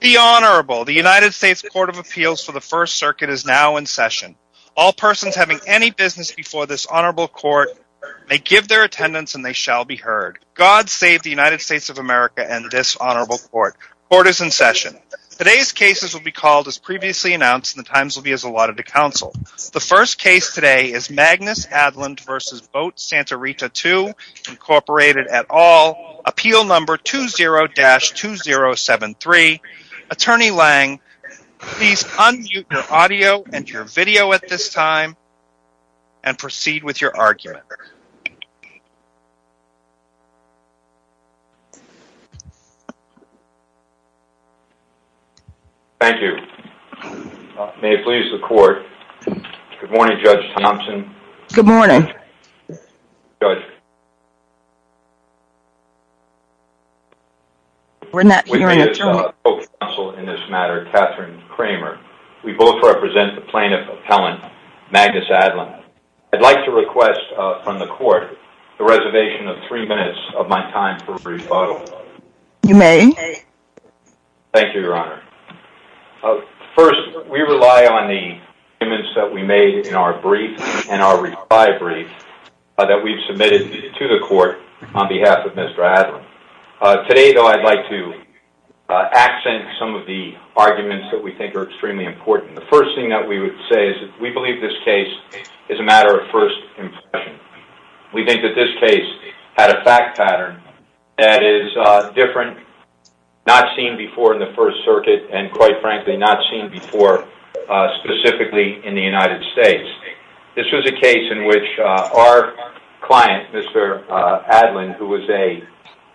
The Honorable, the United States Court of Appeals for the First Circuit is now in session. All persons having any business before this Honorable Court may give their attendance and they shall be heard. God save the United States of America and this Honorable Court. Court is in session. Today's cases will be called as previously announced and the times will be as allotted to counsel. The first case today is Magnus Aadland v. Boat Santa Rita II, Incorporated et al, Appeal No. 20-2073. Attorney Lange, please unmute your audio and your video at this time and proceed with your argument. Thank you. May it please the Court. Good morning, Judge Thompson. Good morning. Judge. We're not hearing a term. We need a co-counsel in this matter, Katherine Kramer. We both represent the Plaintiff Appellant, Magnus Aadland. I'd like to request from the Court the reservation of three minutes of my time for rebuttal. You may. Thank you, Your Honor. First, we rely on the statements that we made in our brief and our reply brief that we've submitted to the Court on behalf of Mr. Aadland. Today, though, I'd like to accent some of the arguments that we think are extremely important. The first thing that we would say is that we believe this case is a matter of first impression. We think that this case had a fact pattern that is different, not seen before in the First Circuit, and quite frankly, not seen before specifically in the United States. This was a case in which our client, Mr. Aadland, who was a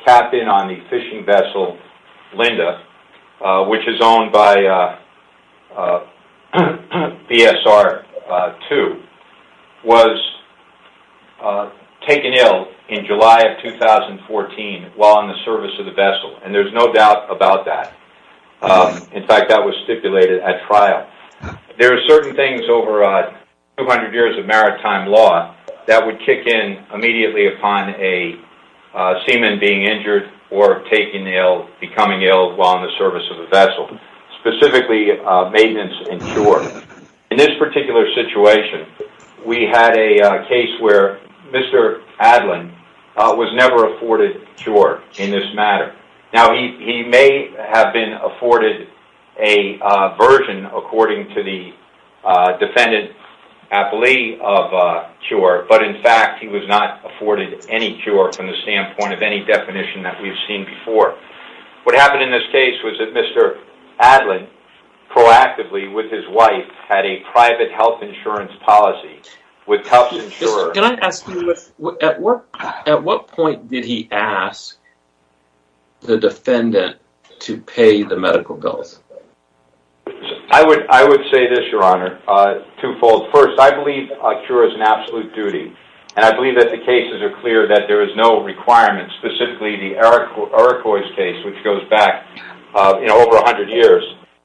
captain on the fishing vessel Linda, which is owned by BSR-2, was taken ill in July of 2014 while in the service of the vessel, and there's no doubt about that. In fact, that was stipulated at trial. There are certain things over 200 years of maritime law that would kick in immediately upon a seaman being injured or becoming ill while in the service of the vessel, specifically maintenance and cure. In this particular situation, we had a claim that Mr. Aadland was never afforded a cure in this matter. Now, he may have been afforded a version according to the defendant's plea of a cure, but in fact, he was not afforded any cure from the standpoint of any definition that we've seen before. What happened in this case was that Mr. Aadland proactively with his wife had a private health insurance policy with health insurers. Can I ask you, at what point did he ask the defendant to pay the medical bills? I would say this, your honor, twofold. First, I believe a cure is an absolute duty, and I believe that the cases are clear that there is no requirement, specifically the Iroquois case, which goes back over 100 years.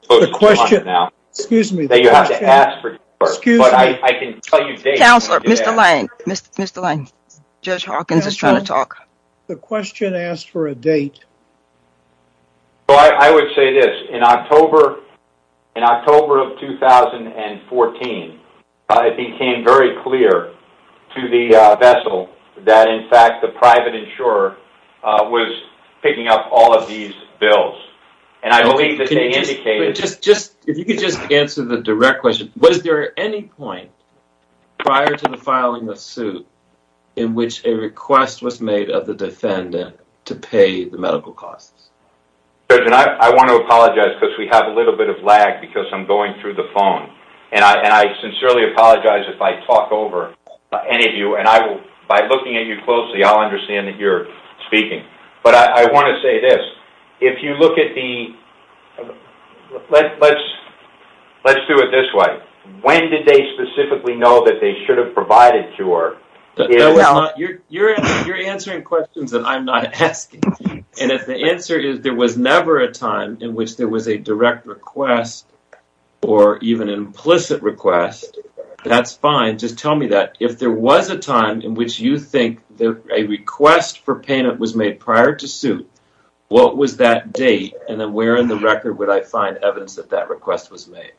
The question, excuse me. You have to ask for a date. But I can tell you dates. Counselor, Mr. Lang, Judge Hawkins is trying to talk. The question asked for a date. Well, I would say this, in October of 2014, it became very clear to the vessel that, in fact, the private insurer was picking up all of these bills, and I believe that they were paid. Was there any point prior to the filing of the suit in which a request was made of the defendant to pay the medical costs? Judge, I want to apologize because we have a little bit of lag because I'm going through the phone, and I sincerely apologize if I talk over any of you, and by looking at you closely, I'll understand that you're speaking. But I want to say this. Let's do it this way. When did they specifically know that they should have provided a cure? You're answering questions that I'm not asking, and if the answer is there was never a time in which there was a direct request or even an implicit request, that's fine. Just tell me that. If there was a time in which you made prior to suit, what was that date, and then where in the record would I find evidence that that request was made?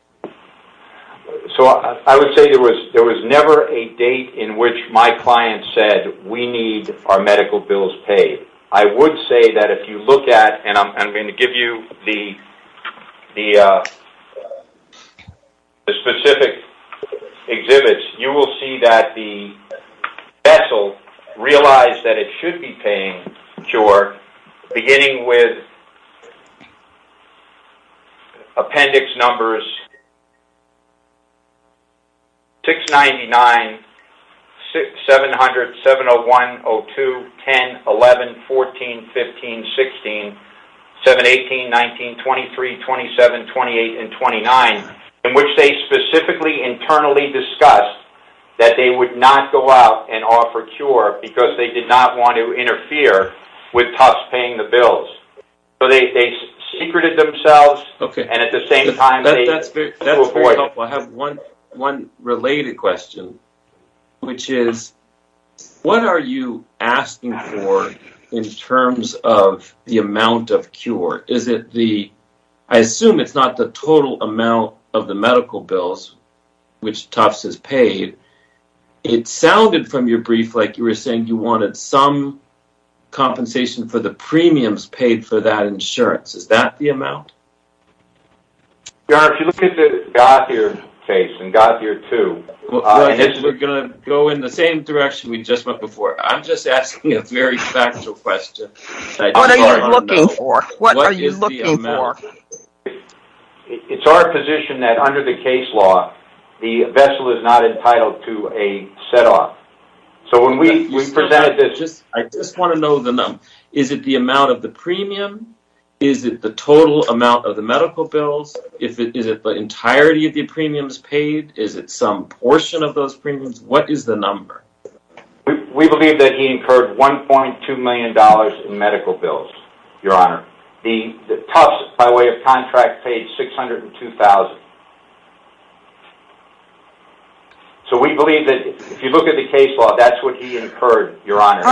So, I would say there was never a date in which my client said, we need our medical bills paid. I would say that if you look at, and I'm going to give you the cure, beginning with appendix numbers 699, 700, 701, 02, 10, 11, 14, 15, 16, 718, 19, 23, 27, 28, and 29, in which they specifically internally discussed that they would not go out and offer cure because they did not want to interfere with Tufts paying the bills. So, they secreted themselves, and at the same time, they... That's very helpful. I have one related question, which is, what are you asking for in terms of the amount of cure? I assume it's not the total amount of the medical bills, which Tufts has paid. It sounded from your brief like you were saying you wanted some compensation for the premiums paid for that insurance. Is that the amount? Your Honor, if you look at the Gotthier case and Gotthier 2... We're going to go in the same direction we just went before. I'm just asking a very factual question. What are you looking for? What are you looking for? It's our position that under the case law, the vessel is not entitled to a set-off. So, when we presented this... I just want to know the number. Is it the amount of the premium? Is it the total amount of the medical bills? Is it the entirety of the premiums paid? Is it some portion of those premiums? What is the number? We believe that he incurred $1.2 million in medical bills, Your Honor. Tufts, by way of contract, paid $602,000. So, we believe that if you look at the case law, that's what he incurred, Your Honor.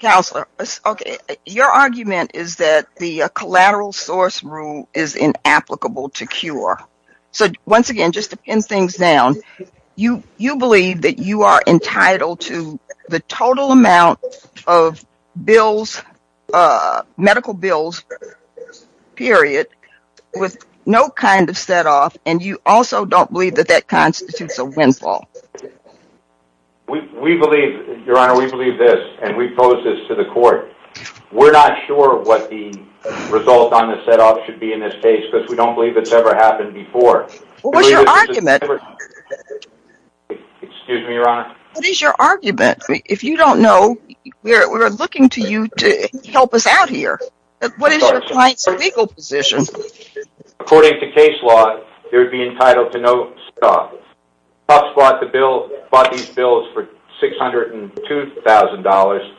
Counselor, your argument is that the collateral source rule is inapplicable to cure. So, once again, just to pin things down, you believe that you are entitled to the total amount of medical bills, period, with no kind of set-off, and you also don't believe that that constitutes a windfall. We believe, Your Honor, we believe this, and we pose this to the court. We're not sure what the result on the set-off should be in this case because we don't believe it's ever happened before. What's your argument? Excuse me, Your Honor. What is your argument? If you don't know, we're looking to you to help us out here. What is your client's legal position? According to case law, they would be entitled to no set-off. Tufts bought these bills for $602,000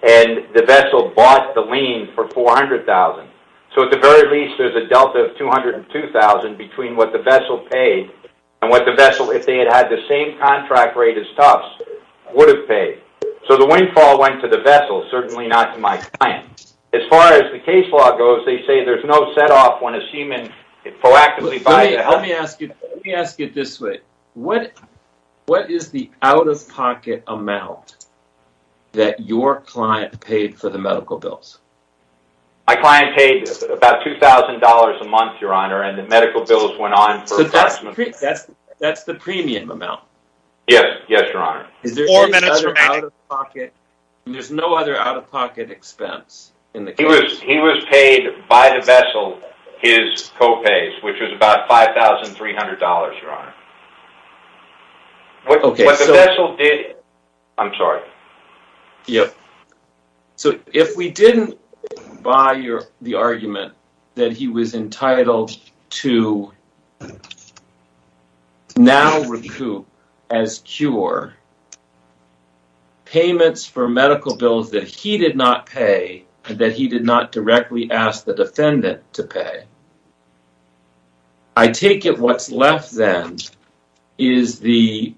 and the vessel bought the lien for $400,000. So, at the very least, there's a delta of $202,000 between what the vessel paid and what the vessel, if they had had the same contract rate as Tufts, would have paid. So, the windfall went to the vessel, certainly not to my client. As far as the case law goes, they say there's no set-off when a seaman proactively buys... Let me ask you this way. What is the out-of-pocket amount that your client paid for the medical bills? My client paid about $2,000 a month, Your Honor, and the medical bills went on for approximately... So, that's the premium amount? Yes, Your Honor. There's no other out-of-pocket expense in the case? He was paid by the vessel his co-pays, which was about $5,300, Your Honor. What the vessel did... I'm sorry. Yep. So, if we didn't buy the argument that he was entitled to now recoup as cure payments for medical bills that he did not pay, that he did not directly ask the defendant to pay, I take it what's left then is the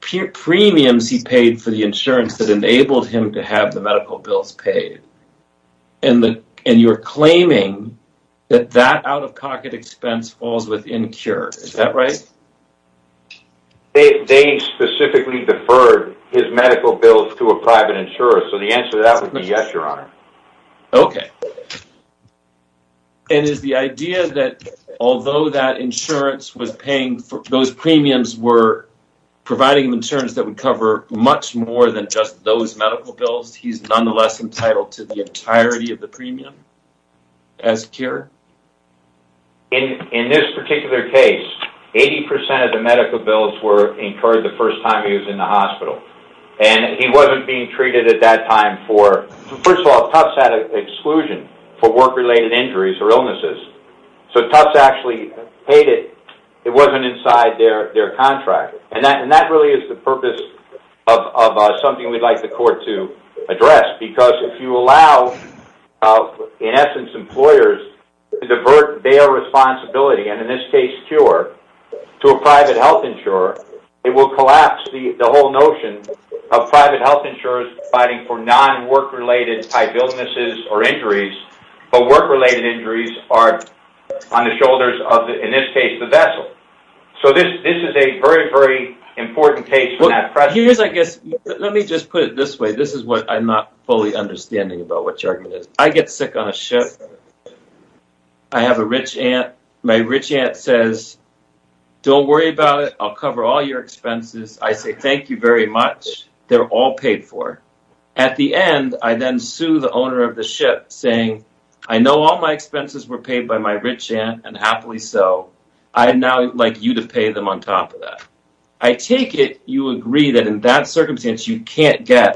premiums he paid for the insurance that enabled him to have the medical bills paid, and you're claiming that that out-of-pocket expense falls within cure. Is that right? They specifically deferred his medical bills to a private insurer, so the answer to that would be yes, Your Honor. Okay. And is the idea that although that insurance was paying for... Those premiums were providing him insurance that would cover much more than those medical bills, he's nonetheless entitled to the entirety of the premium as cure? In this particular case, 80% of the medical bills were incurred the first time he was in the hospital, and he wasn't being treated at that time for... First of all, Tufts had an exclusion for work-related injuries or illnesses, so Tufts actually paid it. It wasn't inside their contract, and that really is the purpose of something we'd like the court to address, because if you allow, in essence, employers to divert their responsibility, and in this case, cure, to a private health insurer, it will collapse the whole notion of private health insurers fighting for non-work-related type illnesses or injuries, but work-related injuries are on the important page. Let me just put it this way. This is what I'm not fully understanding about what your argument is. I get sick on a ship. I have a rich aunt. My rich aunt says, don't worry about it. I'll cover all your expenses. I say, thank you very much. They're all paid for. At the end, I then sue the owner of the ship saying, I know all my expenses were and happily so. I'd now like you to pay them on top of that. I take it you agree that in that circumstance, you can't get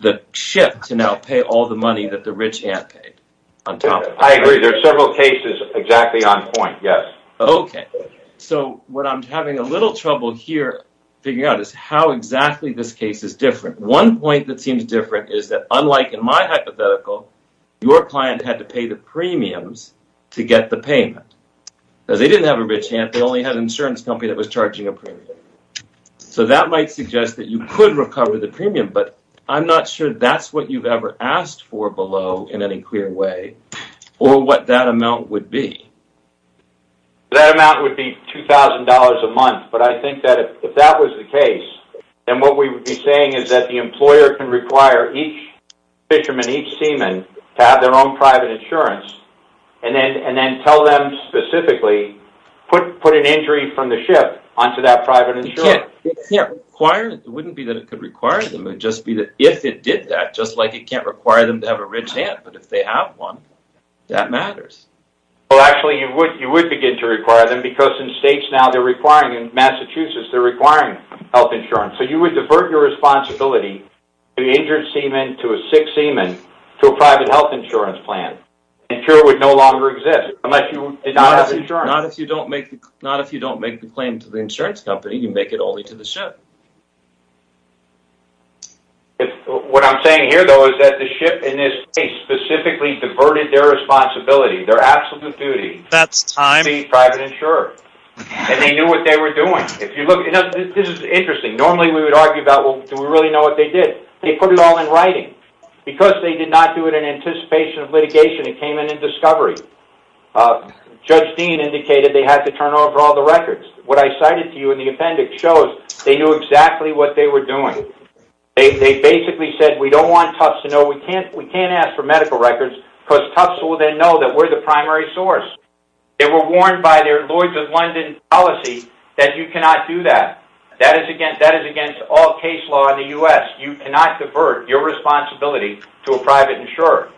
the ship to now pay all the money that the rich aunt paid. I agree. There are several cases exactly on point, yes. Okay, so what I'm having a little trouble here figuring out is how exactly this case is different. One point that seems different is that unlike in my hypothetical, your client had to pay the premiums to get the payment. They didn't have a rich aunt. They only had an insurance company that was charging a premium. That might suggest that you could recover the premium, but I'm not sure that's what you've ever asked for below in any clear way or what that amount would be. That amount would be $2,000 a month. I think that if that was the case, then what we would be saying is that the employer can require each fisherman, each seaman to have their own private insurance, and then tell them specifically, put an injury from the ship onto that private insurance. It wouldn't be that it could require them. It would just be that if it did that, just like it can't require them to have a rich aunt, but if they have one, that matters. Well, actually, you would begin to require them because in states now, in Massachusetts, they're requiring health insurance. You would divert your responsibility to the injured seaman, to a sick seaman, to a private health insurance plan, and sure it would no longer exist unless you did not have insurance. Not if you don't make the claim to the insurance company, you make it only to the ship. What I'm saying here, though, is that the ship in this case specifically diverted their responsibility, their absolute duty to be private insured, and they knew what they were doing. This is interesting. Normally, we would argue about, well, do we really know what they did? They put it all in writing. Because they did not do it in anticipation of litigation, it came in in discovery. Judge Dean indicated they had to turn over all the records. What I cited to you in the appendix shows they knew exactly what they were doing. They basically said, we don't want Tufts to know. We can't ask for medical records because Tufts will then know that we're the primary source. They were warned by their Lloyd's of London policy that you cannot do that. That is against all case law in the U.S. You cannot divert your responsibility to a private insurer.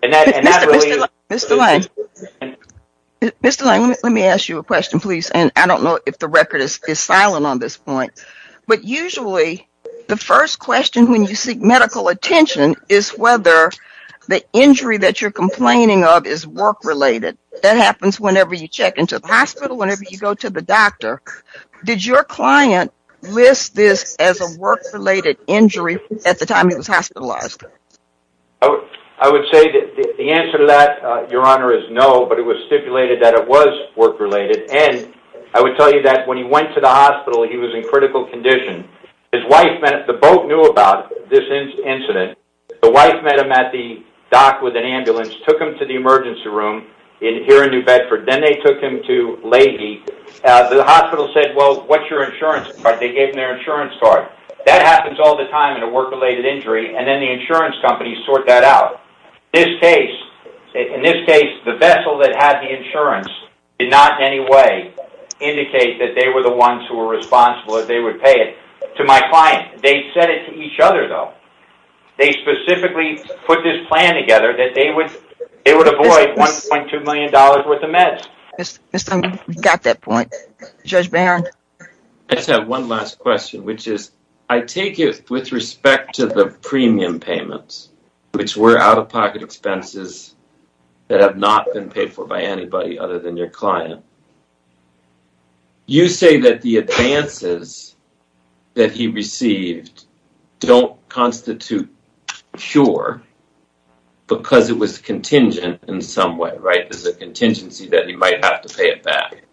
Mr. Lane, let me ask you a question, please, and I don't know if the record is silent on this point, but usually the first question when you seek medical attention is whether the injury that happens whenever you check into the hospital, whenever you go to the doctor, did your client list this as a work-related injury at the time he was hospitalized? I would say that the answer to that, Your Honor, is no, but it was stipulated that it was work-related. I would tell you that when he went to the hospital, he was in critical condition. The boat knew about this incident. The wife met him at the dock with an ambulance, took him to the emergency room here in New Bedford, then they took him to Leahy. The hospital said, well, what's your insurance card? They gave him their insurance card. That happens all the time in a work-related injury, and then the insurance companies sort that out. In this case, the vessel that had the insurance did not in any way indicate that they were the ones who were responsible, that they would pay it to my client. They said it to each other though. They specifically put this plan together that they would avoid $1.2 million worth of meds. We got that point. Judge Barron? I just have one last question, which is, I take it with respect to the premium payments, which were out-of-pocket expenses that have not been paid for by anybody other than your client. You say that the advances that he received don't constitute sure, because it was contingent in some way, right? There's a contingency that he might have to pay it back.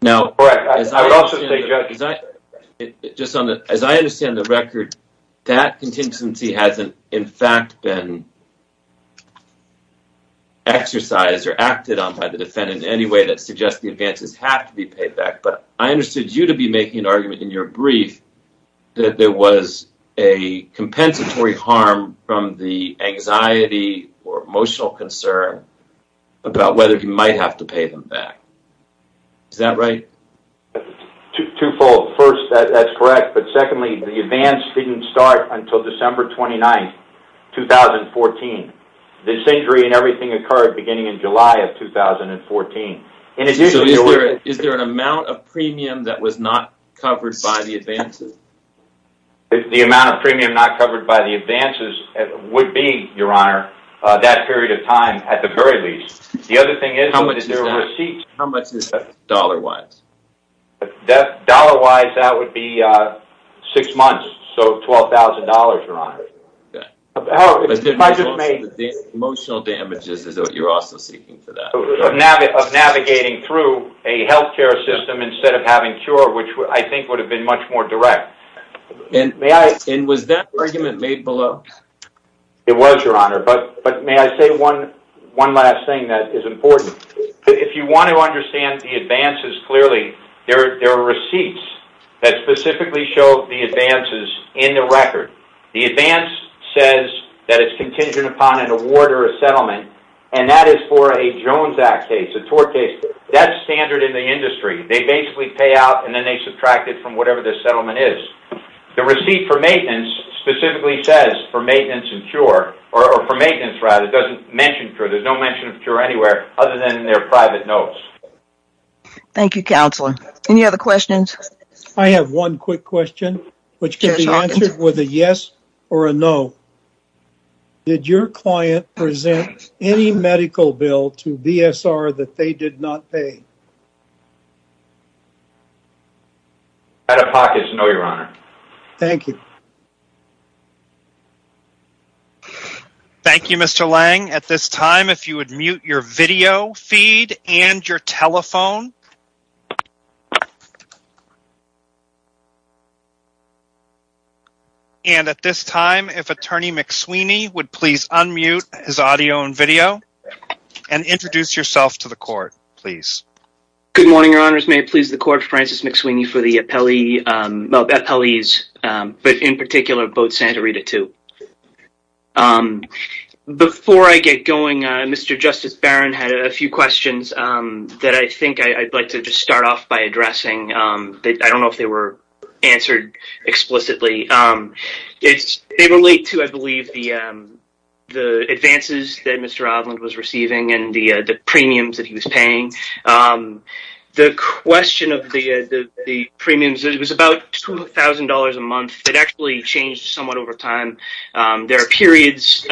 Now, as I understand the record, that contingency hasn't in fact been exercised or acted on by the defendant in any way that suggests the advances have to be paid back, but I understood you to be making an argument in your brief that there was a compensatory harm from the anxiety or emotional concern about whether he might have to pay them back. Is that right? Twofold. First, that's correct, but secondly, the advance didn't start until December 29th, 2014. This injury and everything occurred beginning in July of 2014. Is there an amount of premium that was not covered by the advances? The amount of premium not covered by the advances would be, Your Honor, that period of time, at the very least. The other thing is... How much is that? How much is that, dollar-wise? Dollar-wise, that would be six months, so $12,000, Your Honor. Okay. But the emotional damages is what you're also seeking for that? Of navigating through a health care system instead of having a cure, which I think would have been much more direct. And was that argument made below? It was, Your Honor, but may I say one last thing that is important? If you want to understand the advances clearly, there are receipts that specifically show the advances in the record. The advance says that it's contingent upon an award or a settlement, and that is for a Jones Act case, a tort case. That's standard in the industry. They basically pay out and then they subtract it from whatever the settlement is. The receipt for maintenance specifically says for maintenance and cure, or for maintenance, rather, doesn't mention cure. There's no mention of cure anywhere other than in their private notes. Thank you, Counselor. Any other questions? I have one quick question, which can be answered with a yes or a no. Did your client present any medical bill to BSR that they did not pay? Out of pocket, no, Your Honor. Thank you. Thank you, Mr. Lang. At this time, if you would mute your video feed and your telephone. And at this time, if Attorney McSweeny would please unmute his audio and video and introduce yourself to the court, please. Good morning, Your Honors. May I please the court, Francis McSweeny, for the appellees, but in particular, both Santa Rita too. Before I get going, Mr. Justice Barron had a few questions that I think I'd like to just start off by addressing. I don't know if they were answered explicitly. They relate to, I believe, the advances that Mr. Odlund was receiving and the premiums that he was paying. The question of the premiums, it was about $2,000 a month. It actually changed somewhat over time. There are periods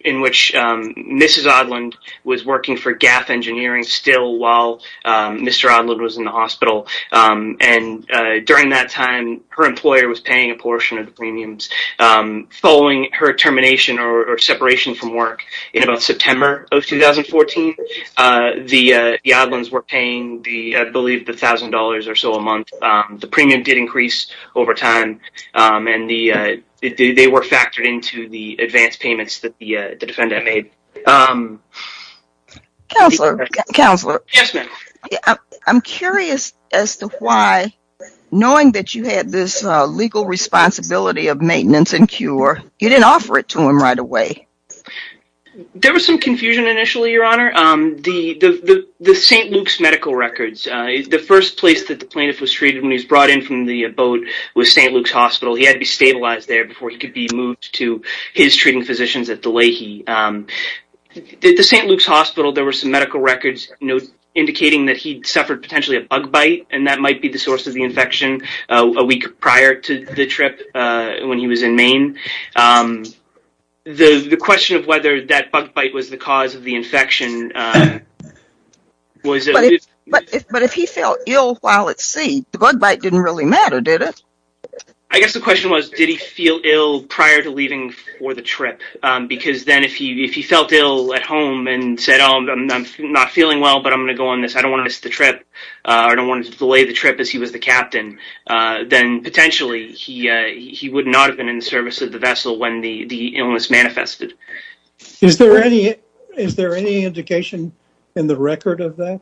in which Mrs. Odlund was working for GAF Engineering still while Mr. Odlund was in the hospital. During that time, her employer was paying a portion of the premiums. Following her termination or separation from work in about September of 2014, the Odlunds were paying, I believe, the $1,000 or so a month. The premium did increase over time, and they were factored into the advance payments that the defendant made. Counselor, I'm curious as to why, knowing that you had this legal responsibility of maintenance and cure, you didn't offer it to him right away. There was some confusion initially, Your Honor. The St. Luke's medical records, the first place that the plaintiff was treated when he was brought in from the boat was St. Luke's Hospital. He had to be stabilized there before he could be moved to his treating physicians at the Leahy. At the St. Luke's Hospital, there were some medical records indicating that he'd suffered potentially a bug bite, and that might be the source of the infection a week prior to the trip when he was in Maine. The question of whether that bug bite was the cause of the infection... But if he felt ill while at sea, the bug bite didn't really matter, did it? I guess the question was, did he feel ill prior to leaving for the trip? Because then if he felt ill at home and said, oh, I'm not feeling well, but I'm going to go on this. I don't want to miss the trip. I don't want to delay the trip as he was the captain. Then potentially he would not have been in the service of the vessel when the illness manifested. Is there any indication in the record of that?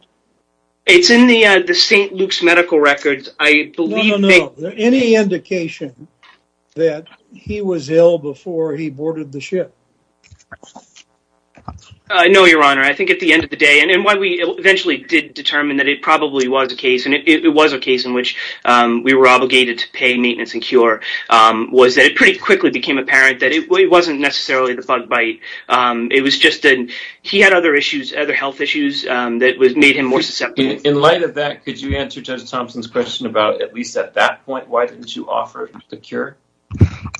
It's in the St. Luke's medical records. No, no, no. Any indication that he was ill before he boarded the ship? No, Your Honor. I think at the end of the day, and why we eventually did determine that it probably was a case, and it was a case in which we were obligated to pay maintenance and cure, was that it pretty quickly became apparent that it wasn't necessarily the bug bite. It was just that he had other health issues that made him more susceptible. In light of that, could you answer Judge Thompson's question about, at least at that point, why didn't you offer the cure?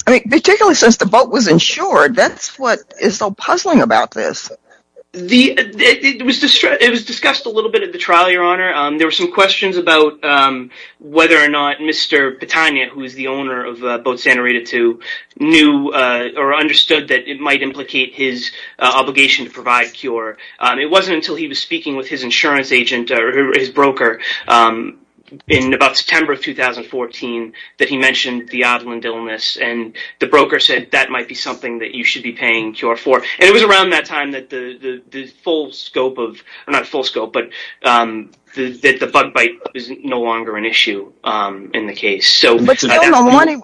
I mean, particularly since the boat was insured, that's what is so puzzling about this. It was discussed a little bit at the trial, Your Honor. There were some questions about whether or not Mr. Battagna, who is the owner of Boat Santa Rita II, knew or understood that it might implicate his obligation to provide cure. It wasn't until he was speaking with his insurance agent, or his broker, in about September of 2014, that he mentioned the oddland illness. The broker said that might be something that you should be paying cure for. It was around that time that the bug bite is no longer an issue in the case. But still, no money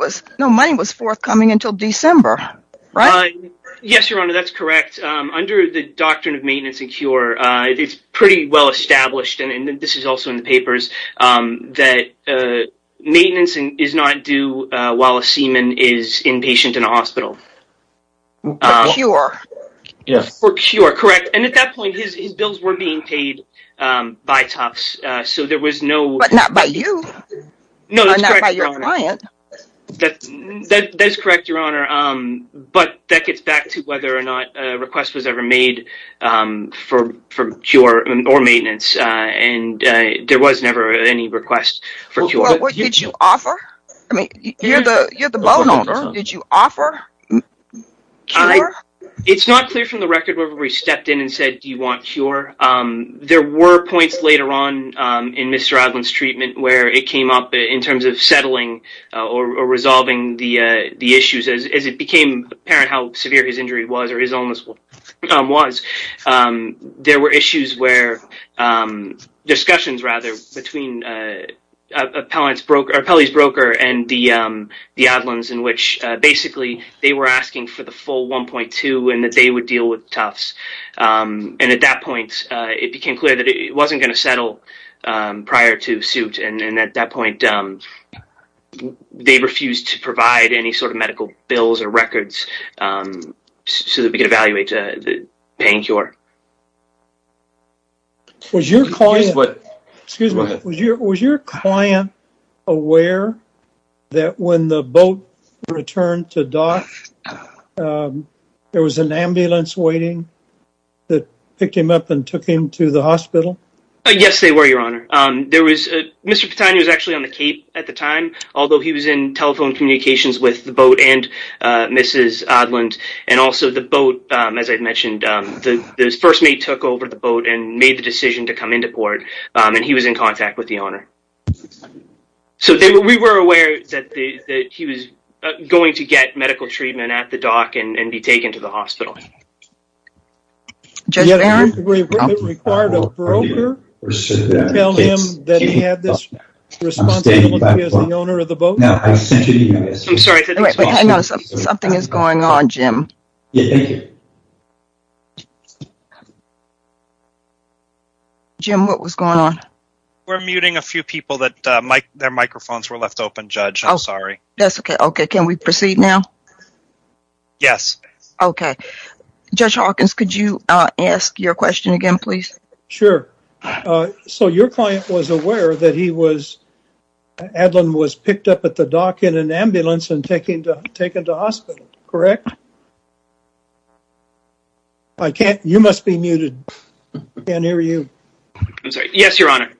was forthcoming until December, right? Yes, Your Honor, that's correct. Under the doctrine of maintenance and cure, it's pretty well established, and this is also in the papers, that maintenance is not due while a seaman is inpatient in a hospital. For cure. Yes. For cure, correct. And at that point, his bills were being paid by Tufts, so there was no... But not by you. No, that's correct, Your Honor. Or not by your client. That's correct, Your Honor. But that gets back to whether or not a request was ever made for cure or maintenance, and there was never any request for cure. Well, what did you offer? I mean, you're the bone owner. Did you offer cure? It's not clear from the record whether we stepped in and said, do you want cure? There were points later on in Mr. Oddland's treatment where it came up in terms of settling or resolving the issues. As it became apparent how severe his injury was or his illness was, there were issues where... Discussions, rather, between Appellee's broker and the Oddlands, in which basically they were asking for the full 1.2 and that they would deal with Tufts. And at that point, it became clear that it wasn't going to they refused to provide any sort of medical bills or records so that we could evaluate the pain cure. Was your client... Excuse me. Go ahead. Was your client aware that when the boat returned to dock, there was an ambulance waiting that picked him up and took him to the hospital? Yes, they were, Your Honor. Mr. Petani was actually on the cape at the time, although he was in telephone communications with the boat and Mrs. Oddland. And also the boat, as I mentioned, the first mate took over the boat and made the decision to come into port, and he was in contact with the owner. So we were aware that he was going to get medical treatment at the dock and be taken to the hospital. Judge Barron? Was it required a broker to tell him that he had this responsibility as the owner of the boat? I'm sorry. Hang on. Something is going on, Jim. Jim, what was going on? We're muting a few people. Their microphones were left open, Judge. I'm sorry. That's okay. Okay. Can we proceed now? Yes. Okay. Judge Hawkins, could you ask your question again, please? Sure. So your client was aware that he was, Adlon was picked up at the dock in an ambulance and taken to hospital, correct? I can't, you must be muted. I can't hear you. I'm sorry. Yes, Your Honor.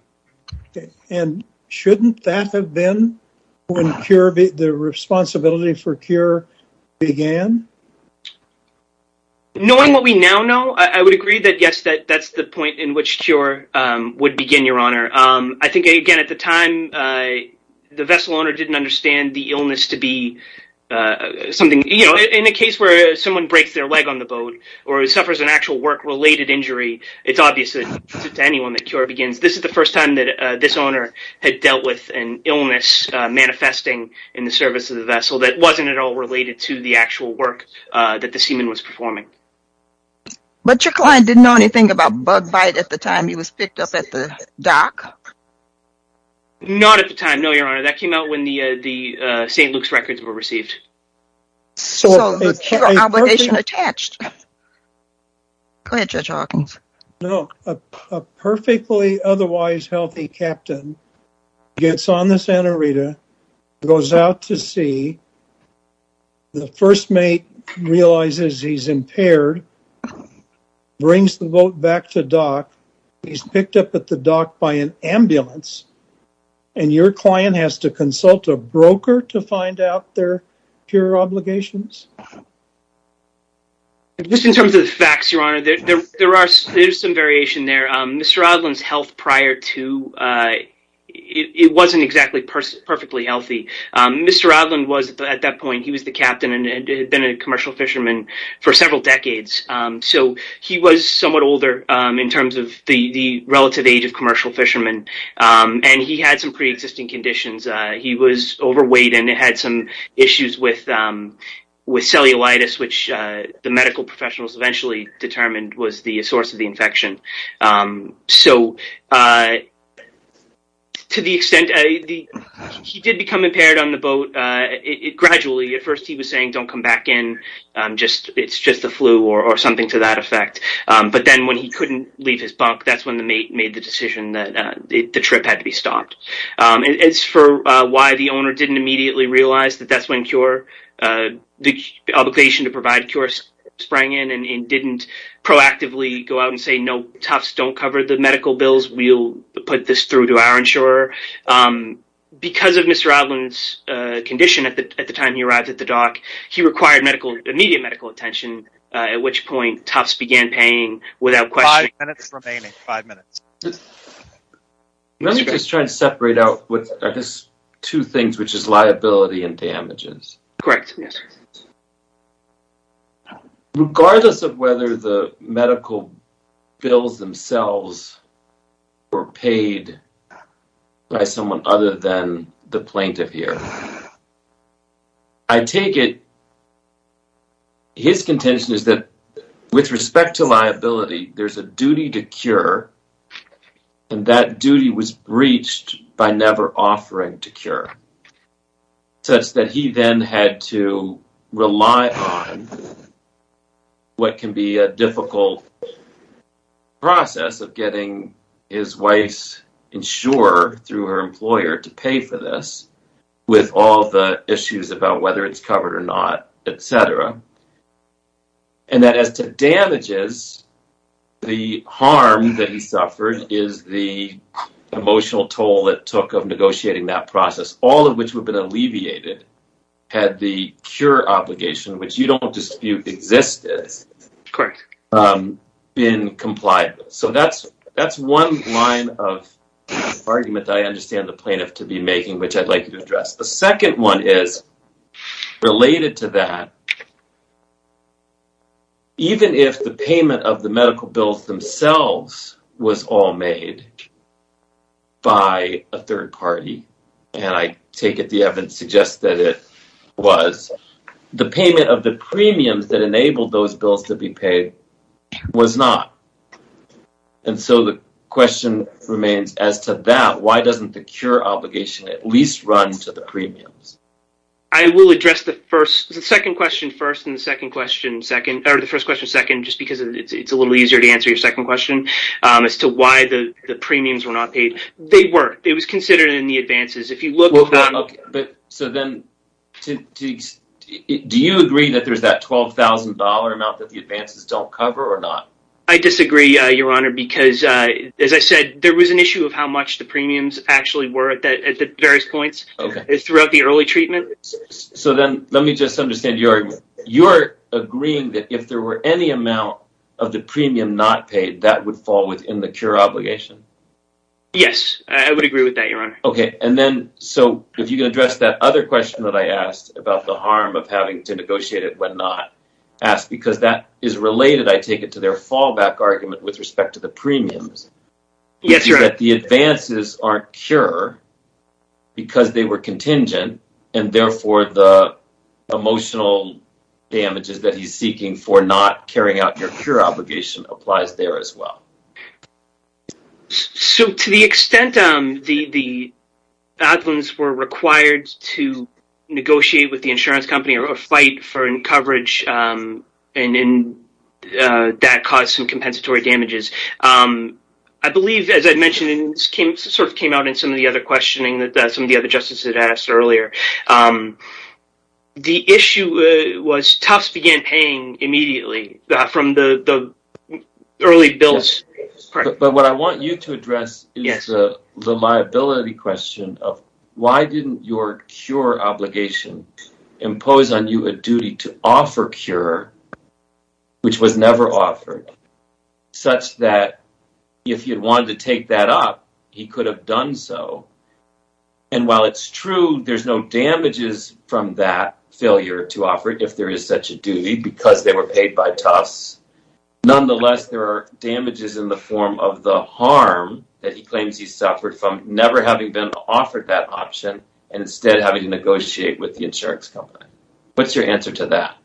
And shouldn't that have been when the responsibility for cure began? Knowing what we now know, I would agree that, yes, that's the point in which cure would begin, Your Honor. I think, again, at the time, the vessel owner didn't understand the illness to be something, you know, in a case where someone breaks their leg on the boat or suffers an actual work-related injury, it's obvious to anyone that cure begins. This is the first time that this owner had dealt with an illness manifesting in the service of the that the seaman was performing. But your client didn't know anything about bug bite at the time he was picked up at the dock? Not at the time, no, Your Honor. That came out when the St. Luke's records were received. So obligation attached. Go ahead, Judge Hawkins. No. A perfectly otherwise healthy captain gets on the Santa Rita, goes out to sea, the first mate realizes he's impaired, brings the boat back to dock, he's picked up at the dock by an ambulance, and your client has to consult a broker to find out their cure obligations? Just in terms of the facts, Your Honor, there's some variation there. Mr. Rodland's health prior to, it wasn't exactly perfectly healthy. Mr. Rodland was, at that point, he was the captain and had been a commercial fisherman for several decades. So he was somewhat older in terms of the relative age of commercial fisherman, and he had some pre-existing conditions. He was overweight and had some issues with cellulitis, which the medical professionals eventually determined was a source of the infection. So to the extent, he did become impaired on the boat. Gradually, at first he was saying, don't come back in. It's just the flu or something to that effect. But then when he couldn't leave his bunk, that's when the mate made the decision that the trip had to be stopped. As for why the owner didn't immediately realize that that's when the obligation to provide a cure sprang in and didn't proactively go out and say, no, Tufts don't cover the medical bills. We'll put this through to our insurer. Because of Mr. Rodland's condition at the time he arrived at the dock, he required immediate medical attention, at which point Tufts began paying without question. Five minutes remaining. Five minutes. Let me just try and separate out what are these two things, which is liability and damages. Correct. Yes. Regardless of whether the medical bills themselves were paid by someone other than the plaintiff here, I take it his contention is that with respect to liability, there's a duty to cure and that duty was breached by never offering to cure, such that he then had to rely on what can be a difficult process of getting his wife's insurer through her employer to pay for this with all the issues about whether it's covered or not, etc. And that as to damages, the harm that he suffered is the emotional toll it took of negotiating that process, all of which would have been alleviated had the cure obligation, which you don't dispute existed, been complied with. So that's one line of argument that I understand the plaintiff to be making, which I'd like you to address. The second one is related to that, which is even if the payment of the medical bills themselves was all made by a third party, and I take it the evidence suggests that it was, the payment of the premiums that enabled those bills to be paid was not. And so the question remains as to that, why doesn't the cure obligation at least run to the premiums? I will address the second question first, and the second question second, or the first question second, just because it's a little easier to answer your second question as to why the premiums were not paid. They were, it was considered in the advances. Do you agree that there's that $12,000 amount that the advances don't cover or not? I disagree, Your Honor, because as I said, there was an issue of how much the premiums actually were at the various points throughout the early treatment. So then let me just understand your argument. You're agreeing that if there were any amount of the premium not paid, that would fall within the cure obligation? Yes, I would agree with that, Your Honor. Okay, and then so if you can address that other question that I asked about the harm of having to negotiate it when not asked, because that is related, I take it, to their fallback argument with respect to the premiums. That the advances aren't cure because they were contingent, and therefore, the emotional damages that he's seeking for not carrying out their cure obligation applies there as well. So to the extent the Adlins were required to negotiate with the insurance company or fight coverage and that caused some compensatory damages, I believe, as I mentioned, and this sort of came out in some of the other questioning that some of the other justices had asked earlier, the issue was Tufts began paying immediately from the early bills. But what I want you to address is the liability question of why didn't your cure obligation impose on you a duty to offer cure, which was never offered, such that if you'd wanted to take that up, he could have done so. And while it's true, there's no damages from that failure to offer it if there is such a duty because they were paid by Tufts. Nonetheless, there are damages in the form of the harm that he claims he suffered from never having been offered that option and instead having to negotiate with the insurance company. What's your answer to that?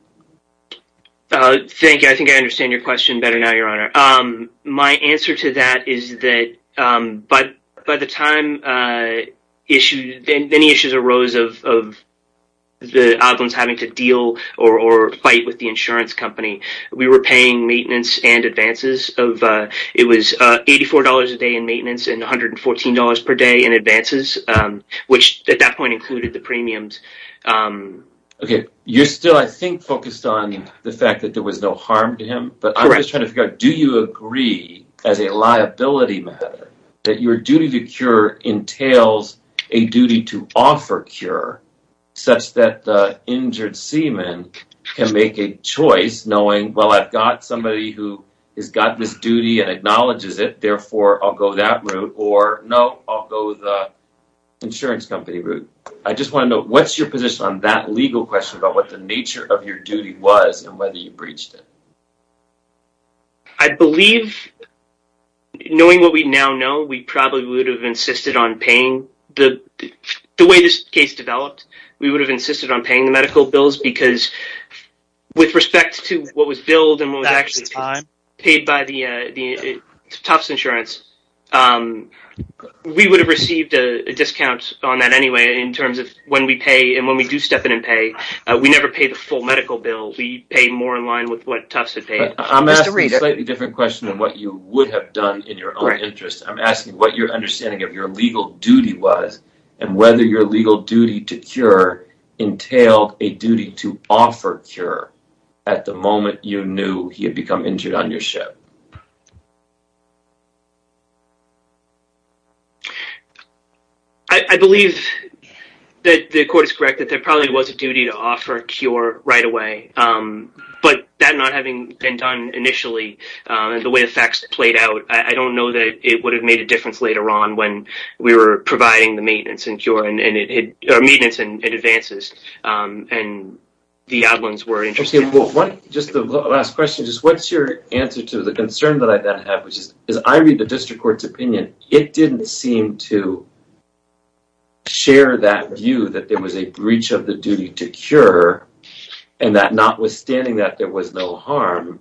Thank you. I think I understand your question better now, Your Honor. My answer to that is that by the time issues arose of the Adlins having to deal or fight with the insurance company, we were paying maintenance and advances. It was $84 a day in maintenance and $114 per day in which at that point included the premiums. You're still, I think, focused on the fact that there was no harm to him. But I'm just trying to figure out, do you agree as a liability matter that your duty to cure entails a duty to offer cure such that the injured seaman can make a choice knowing, well, I've got somebody who has got this duty and acknowledges it. Therefore, I'll go that route or no, I'll go the insurance company route. I just want to know what's your position on that legal question about what the nature of your duty was and whether you breached it. I believe knowing what we now know, we probably would have insisted on paying the the way this case developed. We would have insisted on paying the medical bills because with respect to what was billed and what was actually paid by the Tufts insurance, we would have received a discount on that anyway in terms of when we pay and when we do step in and pay. We never pay the full medical bill. We pay more in line with what Tufts had paid. I'm asking a slightly different question than what you would have done in your own interest. I'm asking what your understanding of your legal duty was and whether your legal duty to cure entailed a duty to offer cure at the moment you knew he had become injured on your ship. I believe that the court is correct that there probably was a duty to offer a cure right away, but that not having been done initially and the way the facts played out, I don't know that it would have made a difference later on when we were providing the maintenance and it advances and the outlines were interesting. What's your answer to the concern that I have? As I read the district court's opinion, it didn't seem to share that view that there was a breach of the duty to cure and that notwithstanding that there was no harm.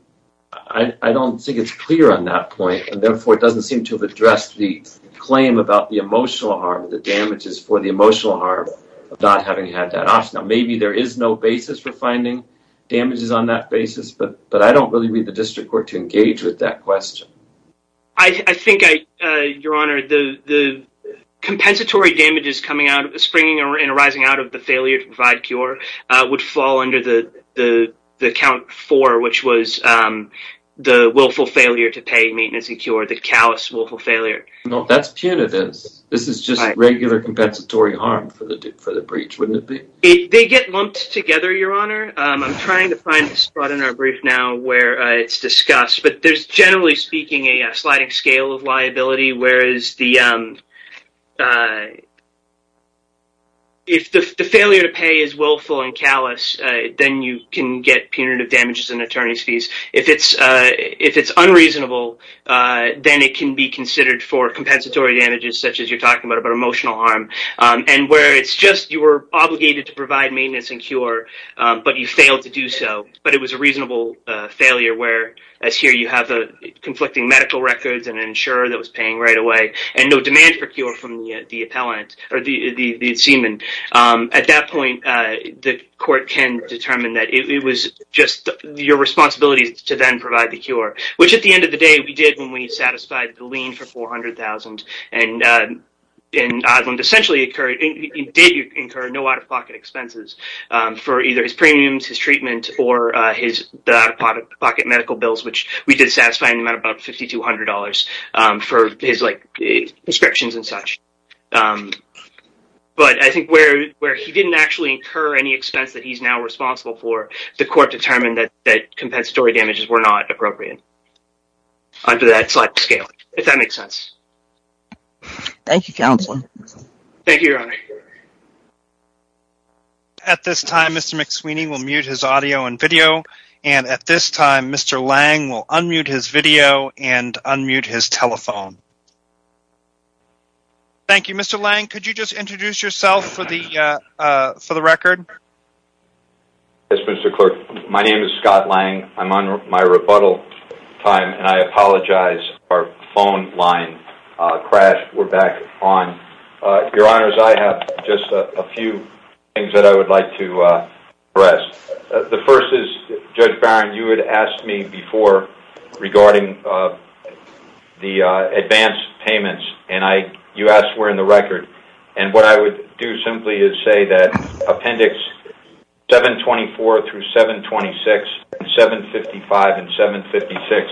I don't think it's clear on that point, and therefore it doesn't seem to have addressed the claim about the emotional harm, the damages for the emotional harm of not having had that option. Maybe there is no basis for finding damages on that basis, but I don't really read the district court to engage with that question. I think, your honor, the compensatory damages springing and arising out of the failure to provide cure would fall under the count four, which was the willful failure to pay compensatory harm for the breach, wouldn't it be? They get lumped together, your honor. I'm trying to find the spot in our brief now where it's discussed, but there's generally speaking a sliding scale of liability, whereas if the failure to pay is willful and callous, then you can get punitive damages and attorney's fees. If it's unreasonable, then it can be considered for compensatory damages, such as you're talking about, about emotional harm, and where it's just you were obligated to provide maintenance and cure, but you failed to do so, but it was a reasonable failure where, as here, you have conflicting medical records and an insurer that was paying right away and no demand for cure from the appellant or the seaman. At that point, the court can determine that it was just your responsibility to then provide the cure, which at the end of the day, we did when we satisfied the lien for $400,000, and Osmond essentially did incur no out-of-pocket expenses for either his premiums, his treatment, or the out-of-pocket medical bills, which we did satisfy in the amount of about $5,200 for his prescriptions and such, but I think where he didn't actually incur any expense that he's now responsible for, the court determined that compensatory damages were not appropriate under that slight scaling, if that makes sense. Thank you, Counselor. Thank you, Your Honor. At this time, Mr. McSweeney will mute his audio and video, and at this time, Mr. Lang will unmute his video and unmute his telephone. Thank you. Mr. Lang, could you just introduce yourself for the record? Yes, Mr. Clerk. My name is Scott Lang. I'm on my rebuttal time, and I apologize. Our phone line crashed. We're back on. Your Honors, I have just a few things that I would like to address. The first is, Judge Barron, you had asked me before regarding the advance payments, and you asked where in the record, and what I would do simply is say that Appendix 724 through 726, and 755 and 756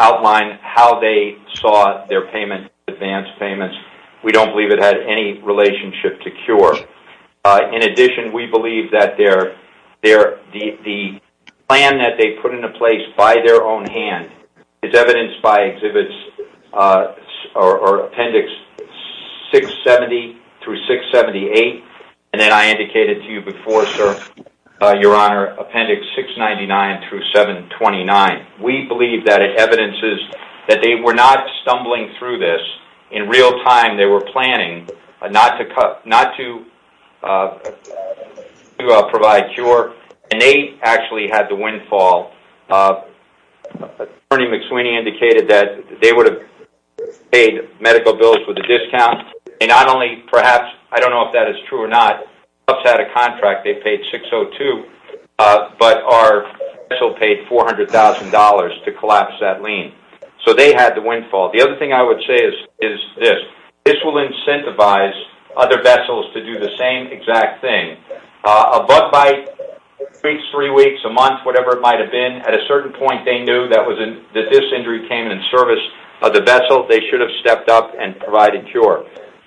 outline how they saw their payment advance payments. We don't believe it had any relationship to cure. In addition, we believe that the plan that they put into place by their own hand is evidenced by Appendix 670 through 678, and then I indicated to you before, Your Honor, Appendix 699 through 729. We believe that it evidences that they were not stumbling through this. In real time, they were planning not to provide cure, and they actually had the windfall. Attorney McSweeny indicated that they would have paid medical bills with a discount, and not only perhaps, I don't know if that is true or not, perhaps they had a contract. They paid 602, but our special paid $400,000 to collapse that lien, so they had the windfall. The other thing I would say is this. This will incentivize other vessels to do the same exact thing. A butt bite, two weeks, three weeks, a month, whatever it might have been, at a certain point they knew that this injury came in service of the vessel. They should have stepped up and provided cure.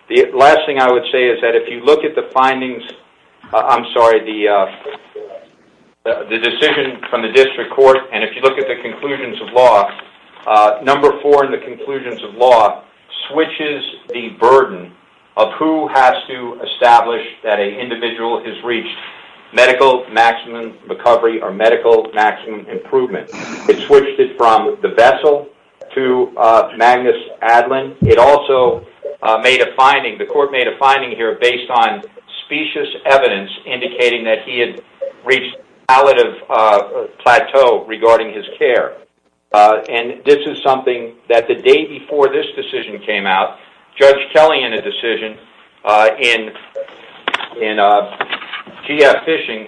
The last thing I would say is that if you look at the findings, I'm sorry, the decision from the District Court, and if you look at the conclusions of law, number four in the conclusions of law switches the burden of who has to establish that an individual has reached medical maximum recovery or medical maximum improvement. It switched it from the vessel to Magnus Adlin. It also made a finding, the court made a finding here based on specious evidence indicating that he had reached a palliative plateau regarding his care, and this is something that the day before this decision came out, Judge Kelly in a decision in GF Fishing,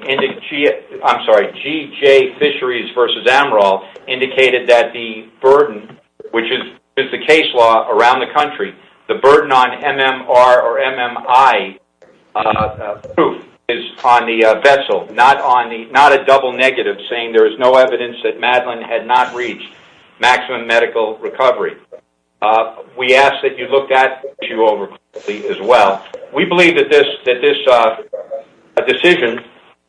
I'm sorry, GJ Fisheries versus Amaral indicated that the burden, which is the case law around the country, the burden on MMR or MMI proof is on the vessel, not a double negative saying there is no evidence that Madeline had not reached maximum medical recovery. We ask that you look at the issue as well. We believe that this decision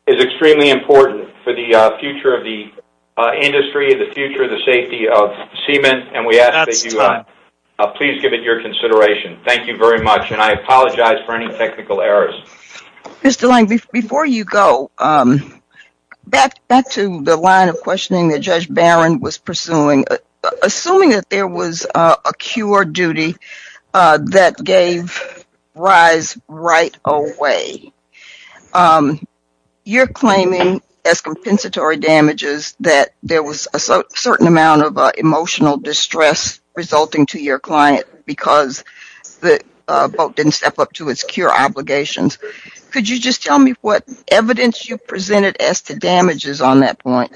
is extremely important for the future of the industry, the future of the safety of semen, and we ask that you please give it your consideration. Thank you very much, and I apologize for any technical errors. Ms. DeLange, before you go, back to the line of questioning that Judge Barron was pursuing, assuming that there was a cure duty that gave rise right away, you're claiming as compensatory damages that there was a certain amount of emotional distress resulting to your client because the boat didn't step up to its cure obligations. Could you just tell me what evidence you presented as to damages on that point?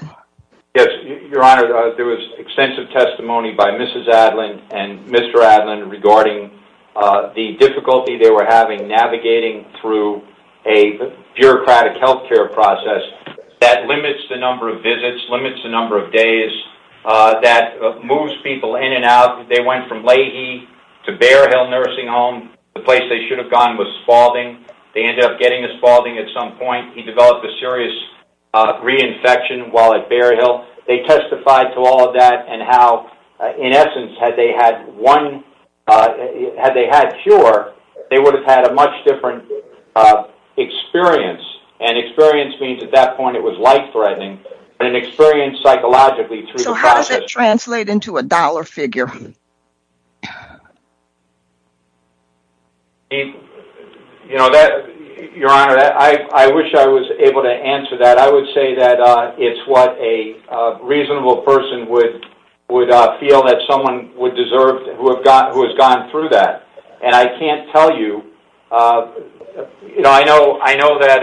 Yes, your honor, there was extensive testimony by Mrs. Adlin and Mr. Adlin regarding the difficulty they were having navigating through a bureaucratic health care process that limits the number of visits, limits the number of days, that moves people in and out. They went from Leahy to Bear Hill Nursing Home. The place they should have gone was Spalding. They ended up getting to Spalding at some point. He developed a serious reinfection while at Bear Hill. They testified to all of that and how, in essence, had they had one, had they had a cure, they would have had a much different experience, and experience means at that point it was life-threatening, but an experience psychologically through the process. Does it translate into a dollar figure? You know, your honor, I wish I was able to answer that. I would say that it's what a reasonable person would feel that someone would deserve who has gone through that, and I can't tell you, you know, I know that,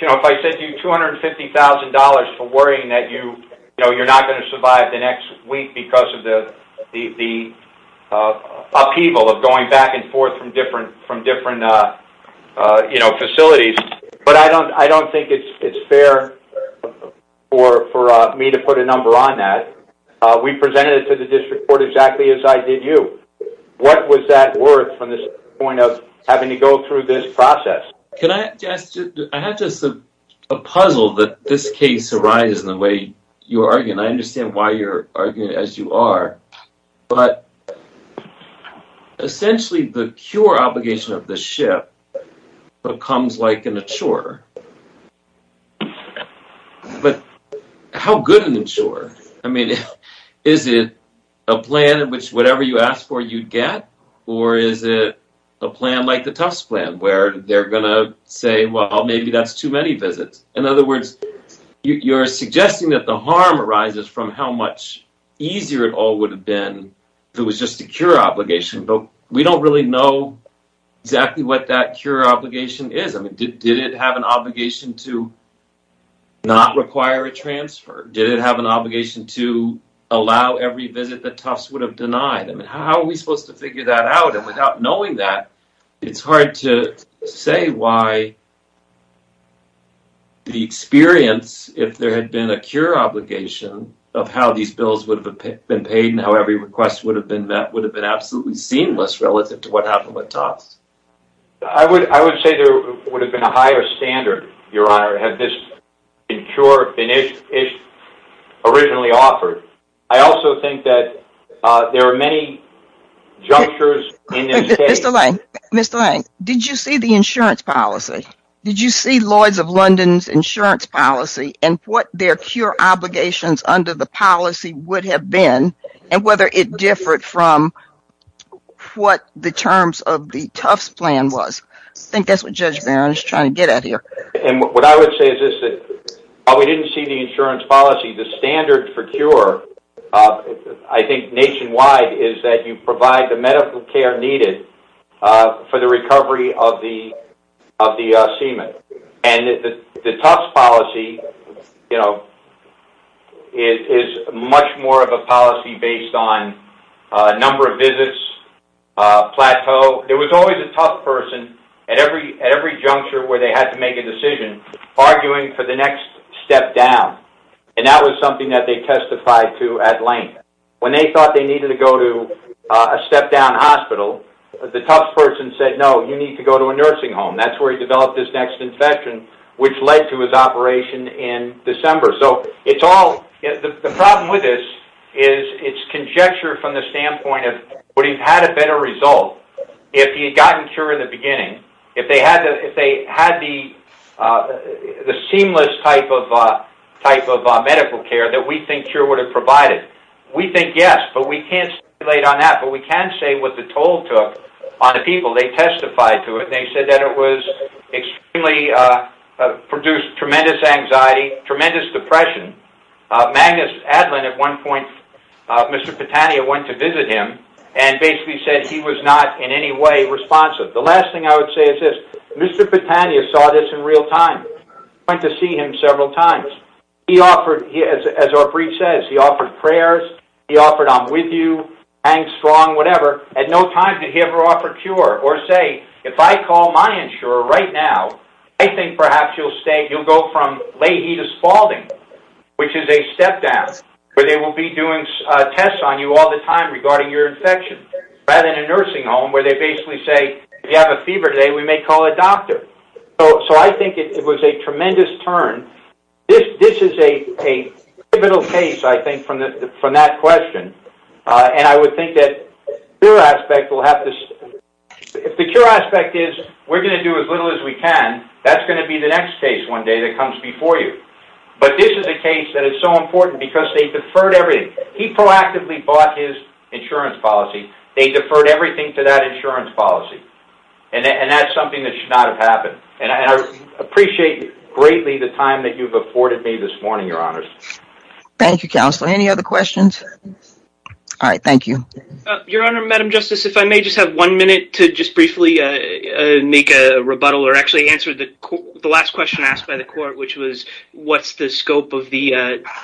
you know, if I said you $250,000 for worrying that you, you know, you're not going to survive the next week because of the upheaval of going back and forth from different, you know, facilities, but I don't think it's fair for me to put a number on that. We presented it to the district court exactly as I did you. What was that worth from this point of having to go through this case arise in the way you're arguing? I understand why you're arguing as you are, but essentially the cure obligation of the ship becomes like an insurer, but how good an insurer? I mean, is it a plan in which whatever you ask for you'd get, or is it a plan like the Tufts plan where they're gonna say, well, maybe that's too many visits? In other words, you're suggesting that the harm arises from how much easier it all would have been if it was just a cure obligation, but we don't really know exactly what that cure obligation is. I mean, did it have an obligation to not require a transfer? Did it have an obligation to allow every visit the Tufts would have denied? I mean, how are we supposed to figure that out? And without knowing that, it's hard to say why the experience, if there had been a cure obligation, of how these bills would have been paid and how every request would have been met would have been absolutely seamless relative to what happened with Tufts. I would say there would have been a higher standard, Your Honor, had this cure been originally offered. I also think that there are many junctures in Mr. Lane, did you see the insurance policy? Did you see Lloyds of London's insurance policy and what their cure obligations under the policy would have been and whether it differed from what the terms of the Tufts plan was? I think that's what Judge Barron is trying to get at here. And what I would say is that while we didn't see the insurance policy, the standard for cure, I think nationwide, is that you provide the medical care needed for the recovery of the semen. And the Tufts policy is much more of a policy based on a number of visits, plateau. There was always a Tufts person at every juncture where they had to make a decision arguing for the next step down. And that was something that they testified to at length. When they thought they needed to go to a step-down hospital, the Tufts person said, no, you need to go to a nursing home. That's where he developed this next infection, which led to his operation in December. So it's all, the problem with this is it's conjecture from the standpoint of would he have had a better result if he had gotten a cure in the beginning, if they had the seamless type of medical care that we think cure would have provided. We think yes, but we can't stipulate on that. But we can say what the toll took on the people. They testified to it. They said that it was extremely, produced tremendous anxiety, tremendous depression. Magnus Adlin at one point, Mr. Petania went to visit him and basically said he was not in any responsive. The last thing I would say is this, Mr. Petania saw this in real time, went to see him several times. He offered, as our brief says, he offered prayers, he offered I'm with you, hang strong, whatever. At no time did he ever offer a cure or say, if I call my insurer right now, I think perhaps you'll stay, you'll go from Lahey to Spalding, which is a step-down where they will be doing tests on you all the time regarding your infection, rather than a nursing home where they basically say, if you have a fever today, we may call a doctor. So I think it was a tremendous turn. This is a pivotal case, I think, from that question. And I would think that the cure aspect will have to, if the cure aspect is we're going to do as little as we can, that's going to be the next case one day that comes before you. But this is a case that is so important because they deferred everything. He proactively bought his insurance policy. They deferred everything to that insurance policy. And that's something that should not have happened. And I appreciate greatly the time that you've afforded me this morning, Your Honors. Thank you, Counselor. Any other questions? All right. Thank you. Your Honor, Madam Justice, if I may just have one minute to just briefly make a rebuttal or actually answer the last question asked by the court, which was, what's the scope of the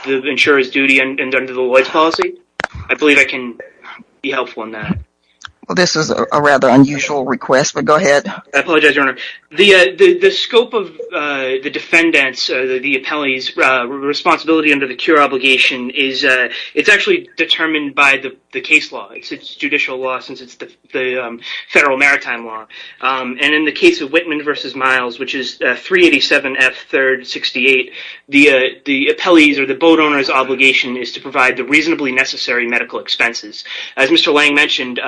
insurer's duty under the Lloyds policy? I believe I can be helpful in that. Well, this is a rather unusual request, but go ahead. I apologize, Your Honor. The scope of the defendant's, the appellee's responsibility under the cure obligation, it's actually determined by the case law. It's judicial law since it's the federal maritime law. And in the case of Whitman v. Miles, which is 387 F. 68, the appellee's or the boat owner's obligation is to provide the reasonably necessary medical expenses. As Mr. Lang mentioned,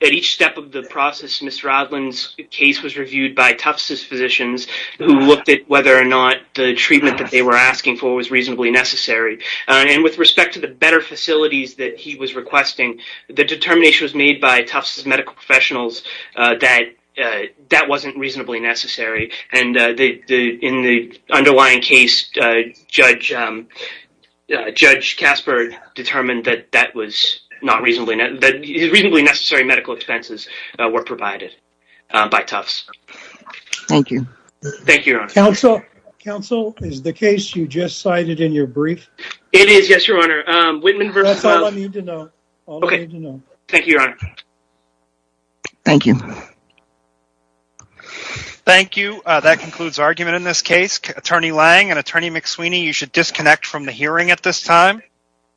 at each step of the process, Mr. Odlin's case was reviewed by Tufts' physicians who looked at whether or not the treatment that they were asking for was reasonably necessary. And with respect to the better facilities that he was requesting, the determination was made by Tufts' medical professionals that that wasn't reasonably necessary. And in the underlying case, Judge Casper determined that that was not reasonably, that reasonably necessary medical expenses were provided by Tufts. Thank you. Thank you, Your Honor. Counsel, is the case you just cited in your brief? It is, yes, Your Honor. Whitman v. Miles. That's all I need to know. All I need to know. Thank you, Your Honor. Thank you. Thank you. That concludes argument in this case. Attorney Lang and Attorney McSweeny, you should disconnect from the hearing at this time.